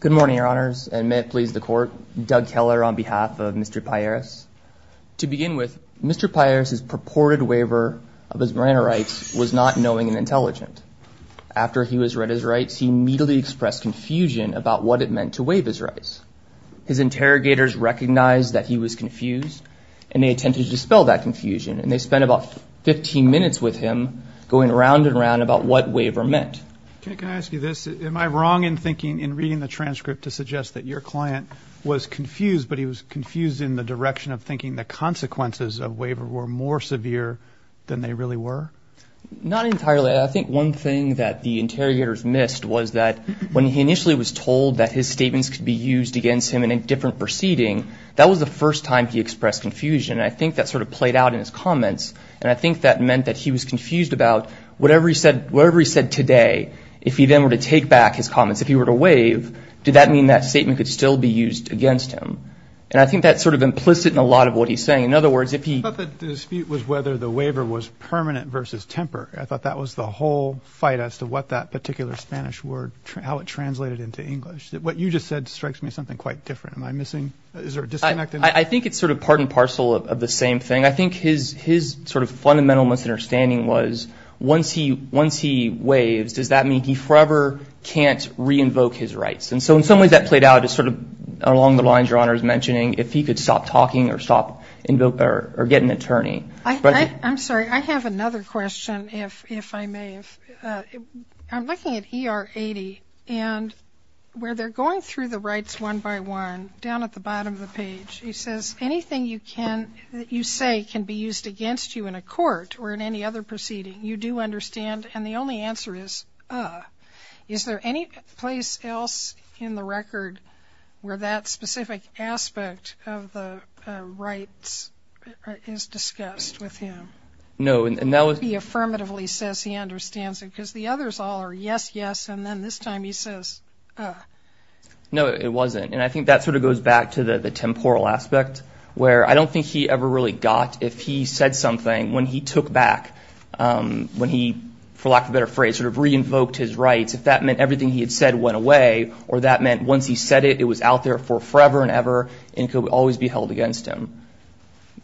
Good morning, your honors, and may it please the court, Doug Keller on behalf of Mr. Pairis. To begin with, Mr. Pairis's purported waiver of his marina rights was not knowing and intelligent. After he was read his rights, he immediately expressed confusion about what it meant to waive his rights. His interrogators recognized that he was confused and they attempted to dispel that confusion and they spent about 15 minutes with him going round and round about what waiver meant. Judge, can I ask you this, am I wrong in thinking, in reading the transcript to suggest that your client was confused, but he was confused in the direction of thinking the consequences of waiver were more severe than they really were? Not entirely. I think one thing that the interrogators missed was that when he initially was told that his statements could be used against him in a different proceeding, that was the first time he expressed confusion. I think that sort of played out in his comments and I think that meant that he was confused about whatever he said today, if he then were to take back his comments, if he were to waive, did that mean that statement could still be used against him? And I think that's sort of implicit in a lot of what he's saying. In other words, if he- I thought the dispute was whether the waiver was permanent versus temper. I thought that was the whole fight as to what that particular Spanish word, how it translated into English. What you just said strikes me as something quite different. Am I missing, is there a disconnect? I think it's sort of part and parcel of the same thing. I think his sort of fundamental misunderstanding was once he waives, does that mean he forever can't re-invoke his rights? And so in some ways that played out as sort of along the lines Your Honor is mentioning, if he could stop talking or stop or get an attorney. I'm sorry, I have another question if I may. I'm looking at ER 80 and where they're going through the rights one by one, down at the bottom. He says, anything you say can be used against you in a court or in any other proceeding. You do understand. And the only answer is, uh. Is there any place else in the record where that specific aspect of the rights is discussed with him? No, and that was- He affirmatively says he understands it because the others all are yes, yes. And then this time he says, uh. No, it wasn't. And I think that sort of goes back to the temporal aspect, where I don't think he ever really got if he said something when he took back, when he, for lack of a better phrase, sort of re-invoked his rights, if that meant everything he had said went away, or that meant once he said it, it was out there for forever and ever and could always be held against him.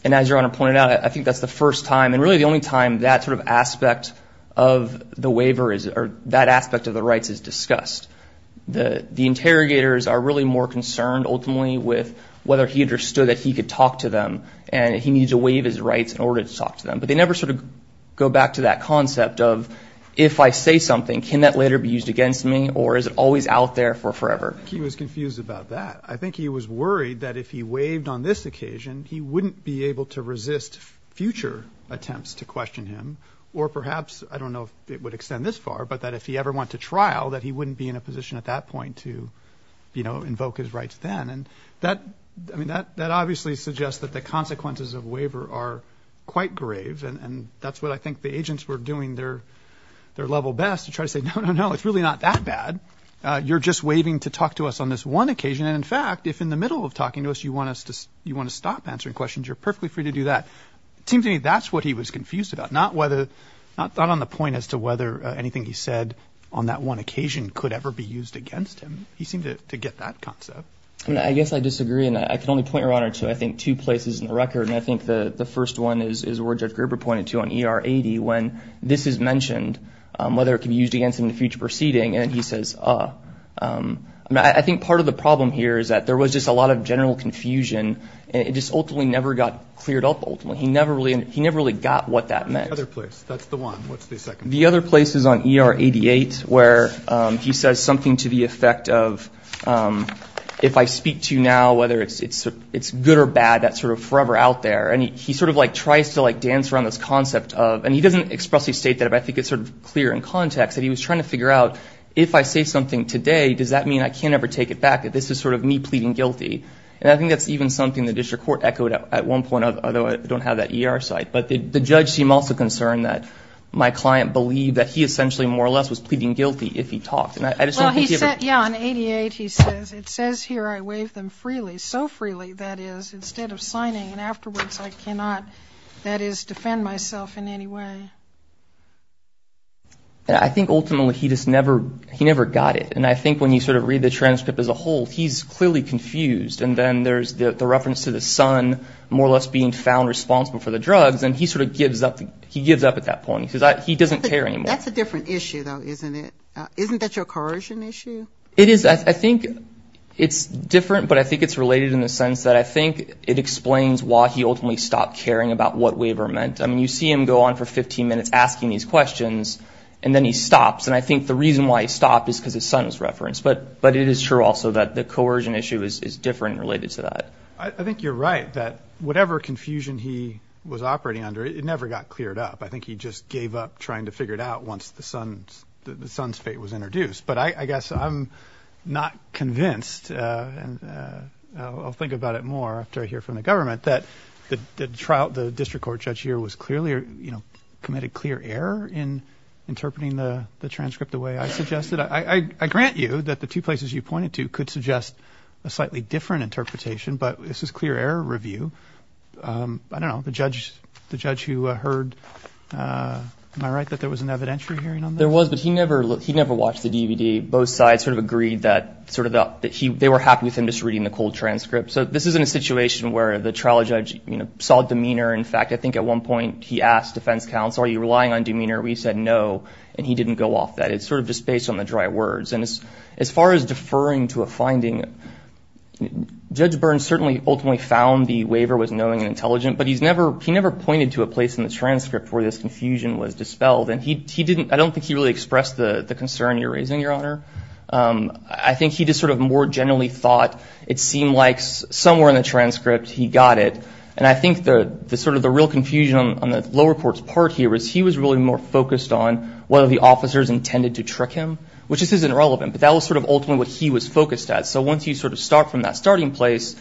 And as Your Honor pointed out, I think that's the first time and really the only time that sort of aspect of the waiver is, or that aspect of the rights is discussed. The interrogators are really more concerned, ultimately, with whether he understood that he could talk to them and he needed to waive his rights in order to talk to them. But they never sort of go back to that concept of, if I say something, can that later be used against me, or is it always out there for forever? He was confused about that. I think he was worried that if he waived on this occasion, he wouldn't be able to resist future attempts to question him, or perhaps, I don't know if it would extend this far, but that if he ever went to trial, that he wouldn't be in a position at that point to invoke his rights then. That obviously suggests that the consequences of waiver are quite grave, and that's what I think the agents were doing their level best, to try to say, no, no, no, it's really not that bad. You're just waiving to talk to us on this one occasion, and in fact, if in the middle of talking to us you want to stop answering questions, you're perfectly free to do that. It seems to me that's what he was confused about, not on the point as to whether anything he said on that one occasion could ever be used against him. He seemed to get that concept. I guess I disagree, and I can only point your honor to, I think, two places in the record, and I think the first one is where Judge Gerber pointed to on ER 80, when this is mentioned, whether it could be used against him in a future proceeding, and he says, uh. I think part of the problem here is that there was just a lot of general confusion, and it just ultimately never got cleared up, ultimately. He never really got what that meant. The other place, that's the one. What's the second one? The other place is on ER 88, where he says something to the effect of, if I speak to you now, whether it's good or bad, that's sort of forever out there, and he sort of like tries to like dance around this concept of, and he doesn't expressly state that, but I think it's sort of clear in context, that he was trying to figure out, if I say something today, does that mean I can't ever take it back, that this is sort of me pleading guilty? And I think that's even something the district court echoed at one point, although I don't have that ER site. But the judge seemed also concerned that my client believed that he essentially more or less was pleading guilty if he talked, and I just don't think he ever... Well, he said, yeah, on 88 he says, it says here I waive them freely, so freely, that is, instead of signing, and afterwards I cannot, that is, defend myself in any way. I think ultimately he just never, he never got it, and I think when you sort of read the transcript as a whole, he's clearly confused, and then there's the reference to the son more or less being found responsible for the drugs, and he sort of gives up, he gives up at that point. He says, he doesn't care anymore. That's a different issue, though, isn't it? Isn't that your coercion issue? It is. I think it's different, but I think it's related in the sense that I think it explains why he ultimately stopped caring about what waiver meant. I mean, you see him go on for 15 minutes asking these questions, and then he stops, and I think the reason why he stopped is because his son was referenced, but it is true also that the coercion issue is different related to that. I think you're right that whatever confusion he was operating under, it never got cleared up. I think he just gave up trying to figure it out once the son's fate was introduced, but I guess I'm not convinced, and I'll think about it more after I hear from the government, that the district court judge here was clearly, you know, committed clear error in interpreting the transcript the way I suggested. I grant you that the two places you pointed to could suggest a slightly different interpretation, but this is clear error review. I don't know, the judge who heard, am I right that there was an evidentiary hearing on that? There was, but he never watched the DVD. Both sides sort of agreed that they were happy with him just reading the cold transcript. So this isn't a situation where the trial judge, you know, saw demeanor. In fact, I think at one point he asked defense counsel, are you relying on demeanor? We said no, and he didn't go off that. It's sort of just based on the dry words, and as far as deferring to a finding, Judge Burns certainly ultimately found the waiver was knowing and intelligent, but he never pointed to a place in the transcript where this confusion was dispelled, and he didn't, I don't think he really expressed the concern you're raising, Your Honor. I think he just sort of more generally thought it seemed like somewhere in the transcript he got it, and I think the sort of the real confusion on the lower court's part here was he was really more focused on whether the officers intended to trick him, which just isn't relevant, but that was sort of ultimately what he was focused at. So once you sort of start from that starting place,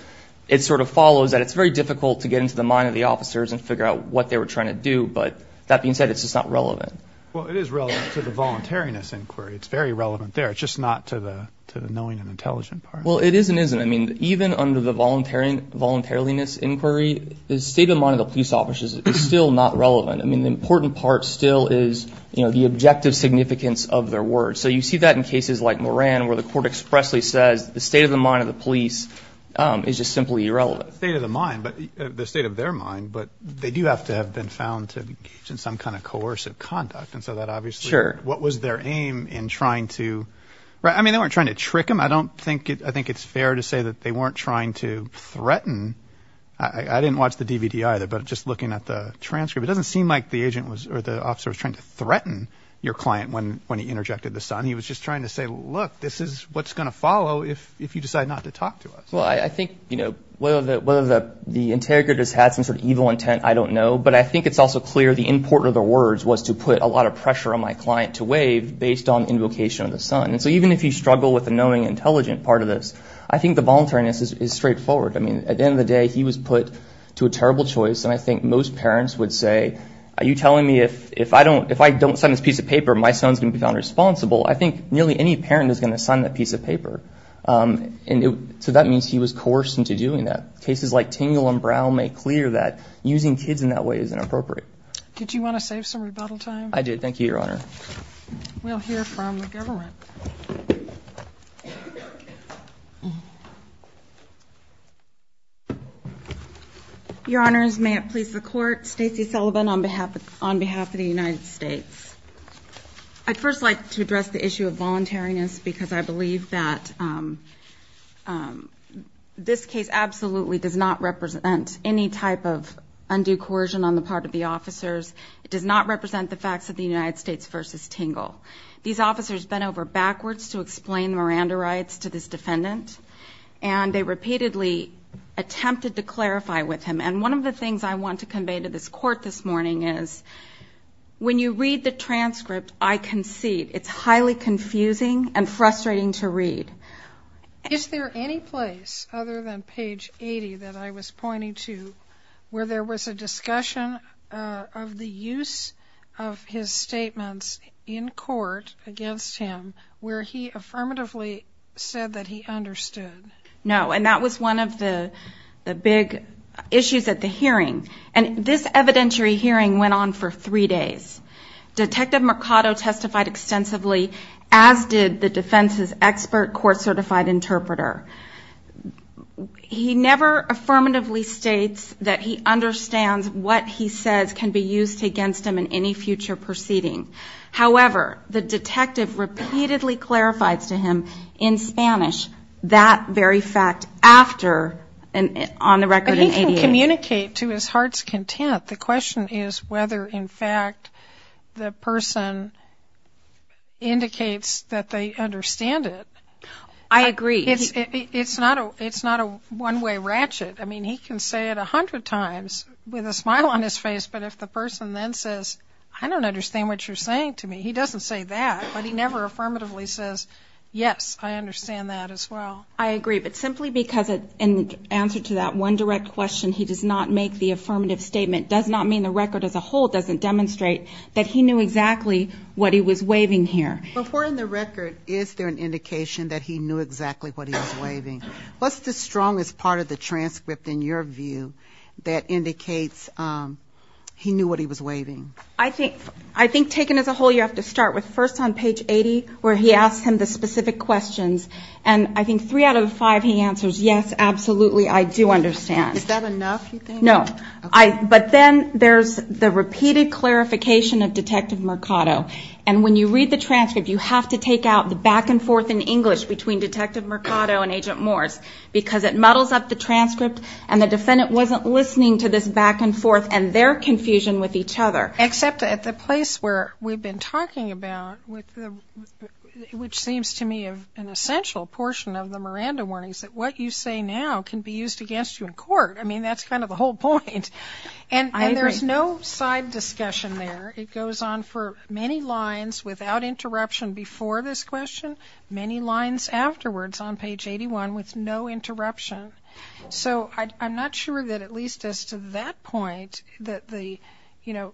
it sort of follows that it's very difficult to get into the mind of the officers and figure out what they were trying to do, but that being said, it's just not relevant. Well, it is relevant to the voluntariness inquiry. It's very relevant there. It's just not to the knowing and intelligent part. Well, it is and isn't. I mean, even under the voluntariness inquiry, the state of mind of the police officers is still not relevant. I mean, the important part still is, you know, the objective significance of their words. So you see that in cases like Moran, where the court expressly says the state of the mind of the police is just simply irrelevant. The state of the mind, but the state of their mind, but they do have to have been found to engage in some kind of coercive conduct, and so that obviously, what was their aim in trying to, I mean, they weren't trying to trick him. I don't think, I think it's fair to say that they weren't trying to threaten. I didn't watch the DVD either, but just looking at the transcript, it doesn't seem like the He was just trying to say, look, this is what's going to follow if you decide not to talk to us. Well, I think, you know, whether the interrogators had some sort of evil intent, I don't know. But I think it's also clear the import of the words was to put a lot of pressure on my client to waive based on invocation of the son. And so even if you struggle with the knowing, intelligent part of this, I think the voluntariness is straightforward. I mean, at the end of the day, he was put to a terrible choice. And I think most parents would say, are you telling me if I don't, if I don't sign this piece of paper, my son's going to be found responsible. I think nearly any parent is going to sign that piece of paper. And so that means he was coerced into doing that. Cases like Tingle and Brown make clear that using kids in that way is inappropriate. Did you want to save some rebuttal time? I did. Thank you, Your Honor. We'll hear from the government. Your Honors, may it please the Court, Stacey Sullivan on behalf of the United States. I'd first like to address the issue of voluntariness because I believe that this case absolutely does not represent any type of undue coercion on the part of the officers. It does not represent the facts of the United States versus Tingle. These officers bent over backwards to explain Miranda rights to this defendant. And they repeatedly attempted to clarify with him. And one of the things I want to convey to this Court this morning is, when you read the transcript, I concede, it's highly confusing and frustrating to read. Is there any place other than page 80 that I was pointing to where there was a discussion of the use of his statements in court against him where he affirmatively said that he understood? No. And that was one of the big issues at the hearing. And this evidentiary hearing went on for three days. Detective Mercado testified extensively, as did the defense's expert court-certified interpreter. He never affirmatively states that he understands what he says can be used against him in any future proceeding. However, the detective repeatedly clarifies to him in Spanish that very fact after, on the record in 88. But he can communicate to his heart's content. The question is whether, in fact, the person indicates that they understand it. I agree. It's not a one-way ratchet. I mean, he can say it a hundred times with a smile on his face. But if the person then says, I don't understand what you're saying to me, he doesn't say that. But he never affirmatively says, yes, I understand that as well. I agree. But simply because in answer to that one direct question, he does not make the affirmative statement, does not mean the record as a whole doesn't demonstrate that he knew exactly what he was waiving here. Before in the record, is there an indication that he knew exactly what he was waiving? What's the strongest part of the transcript, in your view, that indicates he knew what he was waiving? I think taken as a whole, you have to start with first on page 80, where he asks him the specific questions. And I think three out of the five he answers, yes, absolutely, I do understand. Is that enough, you think? No. But then there's the repeated clarification of Detective Mercado. And when you read the transcript, you have to take out the back and forth in English between Detective Mercado and Agent Morse, because it muddles up the transcript and the defendant wasn't listening to this back and forth and their confusion with each other. Except at the place where we've been talking about, which seems to me an essential portion of the Miranda warnings, that what you say now can be used against you in court. I mean, that's kind of the whole point. And there's no side discussion there. It goes on for many lines without interruption before this question, many lines afterwards on page 81 with no interruption. So I'm not sure that at least as to that point that the, you know,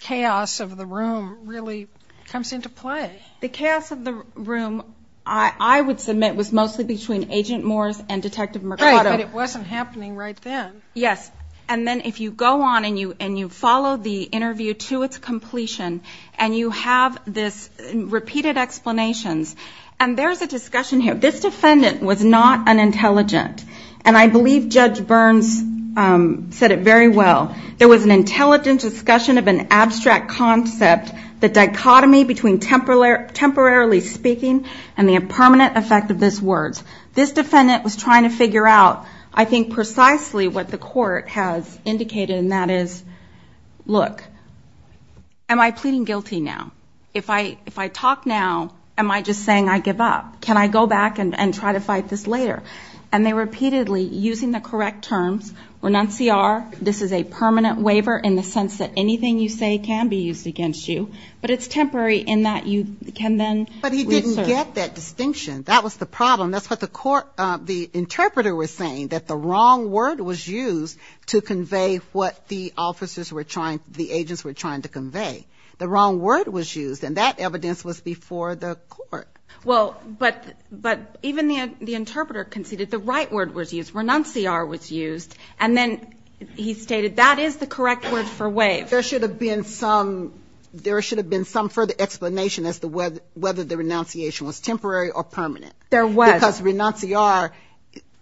chaos of the room really comes into play. The chaos of the room, I would submit, was mostly between Agent Morse and Detective Mercado. Right, but it wasn't happening right then. Yes, and then if you go on and you follow the interview to its completion and you have this repeated explanations, and there's a discussion here. This defendant was not unintelligent. And I believe Judge Burns said it very well. There was an intelligent discussion of an abstract concept, the dichotomy between temporarily speaking and the impermanent effect of these words. This defendant was trying to figure out, I think, precisely what the court has indicated, and that is, look, am I pleading guilty now? If I talk now, am I just saying I give up? Can I go back and try to fight this later? And they repeatedly, using the correct terms, renunciar, this is a permanent waiver in the sense that anything you say can be used against you. But it's temporary in that you can then... But he didn't get that distinction. That was the problem. That's what the interpreter was saying, that the wrong word was used to convey what the officers were trying, the agents were trying to convey. The wrong word was used, and that evidence was before the court. Well, but even the interpreter conceded the right word was used. Renunciar was used. And then he stated that is the correct word for waive. There should have been some further explanation as to whether the renunciation was temporary or permanent. There was. Because renunciar,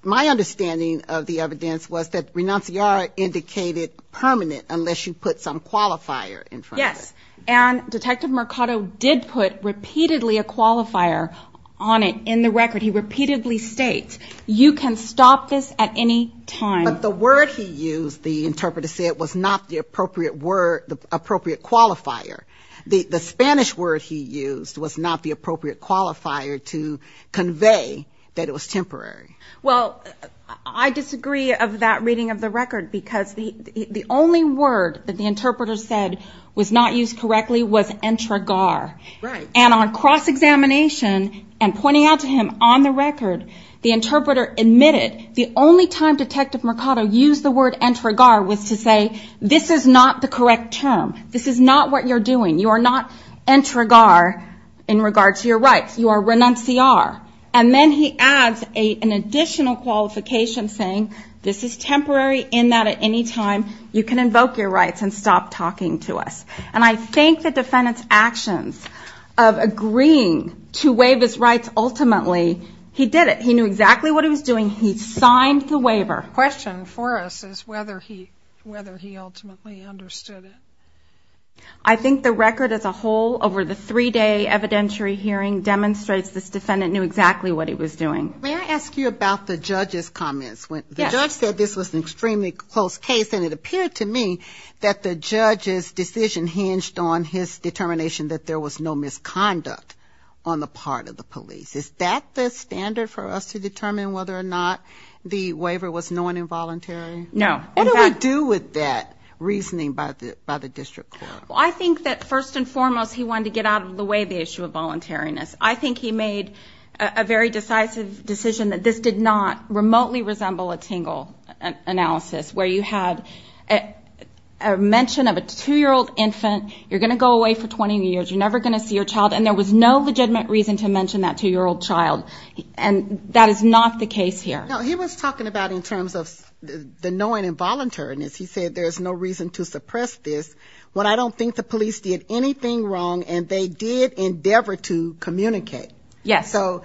my understanding of the evidence was that renunciar indicated permanent unless you put some qualifier in front of it. Yes, and Detective Mercado did put repeatedly a qualifier on it in the record. He repeatedly states, you can stop this at any time. But the word he used, the interpreter said, was not the appropriate qualifier. The Spanish word he used was not the appropriate qualifier to convey that it was temporary. Well, I disagree of that reading of the record because the only word that the interpreter said was not used correctly was entregar. Right. And on cross-examination and pointing out to him on the record, the interpreter admitted the only time Detective Mercado used the word entregar was to say this is not the correct term. This is not what you're doing. You are not entregar in regards to your rights. You are renunciar. And then he adds an additional qualification saying, this is temporary in that at any time you can invoke your rights and stop talking to us. And I think the defendant's actions of agreeing to waive his rights ultimately, he did it. He knew exactly what he was doing. He signed the waiver. The question for us is whether he ultimately understood it. I think the record as a whole over the three-day evidentiary hearing demonstrates this defendant knew exactly what he was doing. May I ask you about the judge's comments? Yes. The judge said this was an extremely close case and it appeared to me that the judge's decision hinged on his determination that there was no misconduct on the part of the police. Is that the standard for us to determine whether or not the waiver was known involuntary? No. What do we do with that reasoning by the district court? Well, I think that first and foremost, he wanted to get out of the way the issue of voluntariness. I think he made a very decisive decision that this did not remotely resemble a Tingle analysis where you had a mention of a two-year-old infant, you're going to go away for 20 years, you're never going to see your child and there was no legitimate reason to mention that two-year-old child and that is not the case here. Now, he was talking about in terms of the knowing involuntariness. He said there's no reason to suppress this. Well, I don't think the police did anything wrong and they did endeavor to communicate. Yes. So,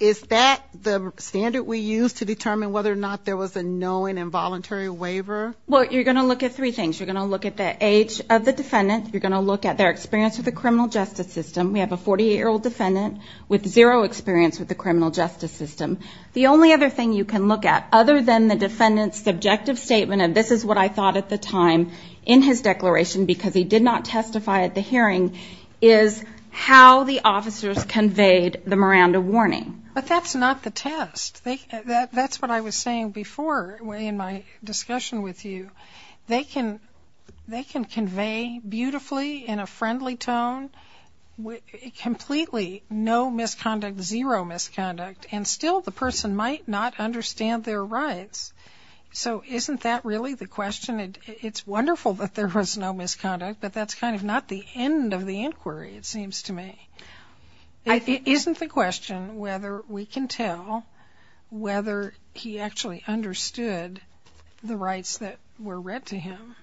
is that the standard we use to determine whether or not there was a knowing involuntary waiver? Well, you're going to look at three things. You're going to look at the age of the defendant. You're going to look at their experience with the criminal justice system. We have a 48-year-old defendant with zero experience with the criminal justice system. The only other thing you can look at other than the defendant's subjective statement of this is what I thought at the time in his declaration because he did not testify at the hearing is how the officers conveyed the Miranda warning. But that's not the test. That's what I was saying before in my discussion with you. They can convey beautifully in a friendly tone completely no misconduct, zero misconduct and still the person might not understand their rights. So, isn't that really the question? It's wonderful that there was no misconduct but that's kind of not the end of the inquiry it seems to me. Isn't the question whether we can tell whether he actually understood the rights that were read to him?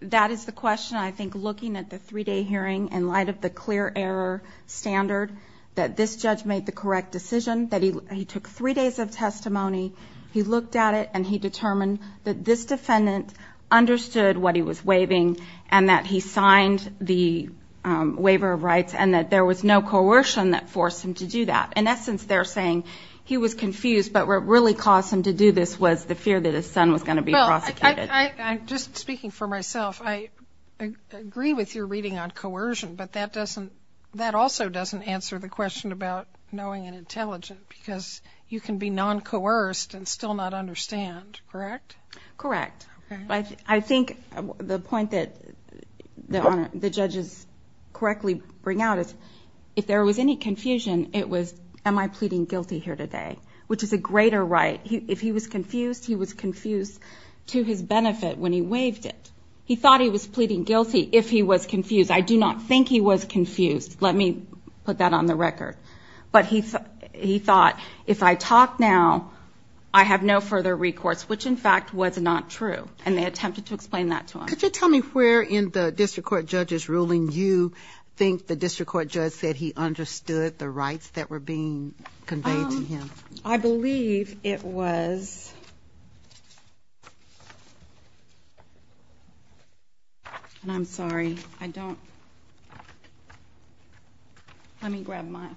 That is the question I think looking at the three-day hearing in light of the clear error standard that this judge made the correct decision that he took three days of testimony. He looked at it and he determined that this defendant understood what he was waiving and that he signed the waiver of rights and that there was no coercion that forced him to do that. In essence, they're saying he was confused but what really caused him to do this was the fear that his son was going to be prosecuted. Just speaking for myself, I agree with your reading on coercion but that also doesn't answer the question about knowing and intelligent because you can be non-coerced and still not understand, correct? Correct. I think the point that the judges correctly bring out was if there was any confusion, it was am I pleading guilty here today? Which is a greater right. If he was confused, he was confused to his benefit when he waived it. He thought he was pleading guilty if he was confused. I do not think he was confused. Let me put that on the record. But he thought if I talk now, I have no further recourse which in fact was not true and they attempted to explain that to him. Could you tell me where in the district court judges ruling you think the district court judge said he understood the rights that were being conveyed to him? I believe it was... And I'm sorry, I don't... Let me grab mine.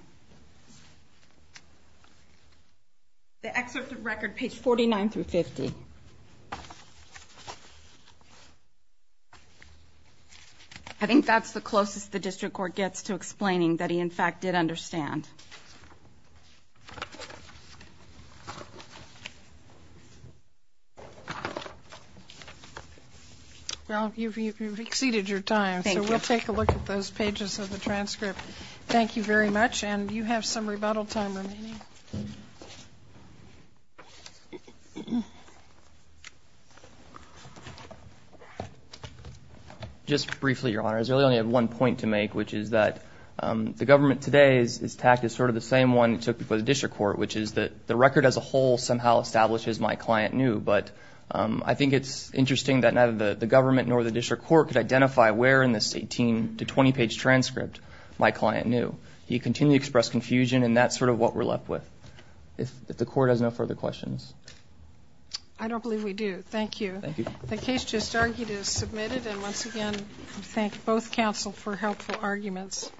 The excerpt of record page 49 through 50. I think that's the closest the district court gets to explaining that he in fact did understand. Well, you've exceeded your time. Thank you. So we'll take a look at those pages of the transcript. Thank you very much. And you have some rebuttal time remaining. Thank you. Just briefly, Your Honor, I really only have one point to make, which is that the government today is tacked as sort of the same one it took before the district court, which is that the record as a whole somehow establishes my client knew. But I think it's interesting that neither the government nor the district court could identify where in this 18 to 20-page transcript my client knew. He continued to express confusion and that's sort of what we're left with. If the court has no further questions... I don't believe we do. Thank you. The case just argued is submitted and once again I thank both counsel for helpful arguments.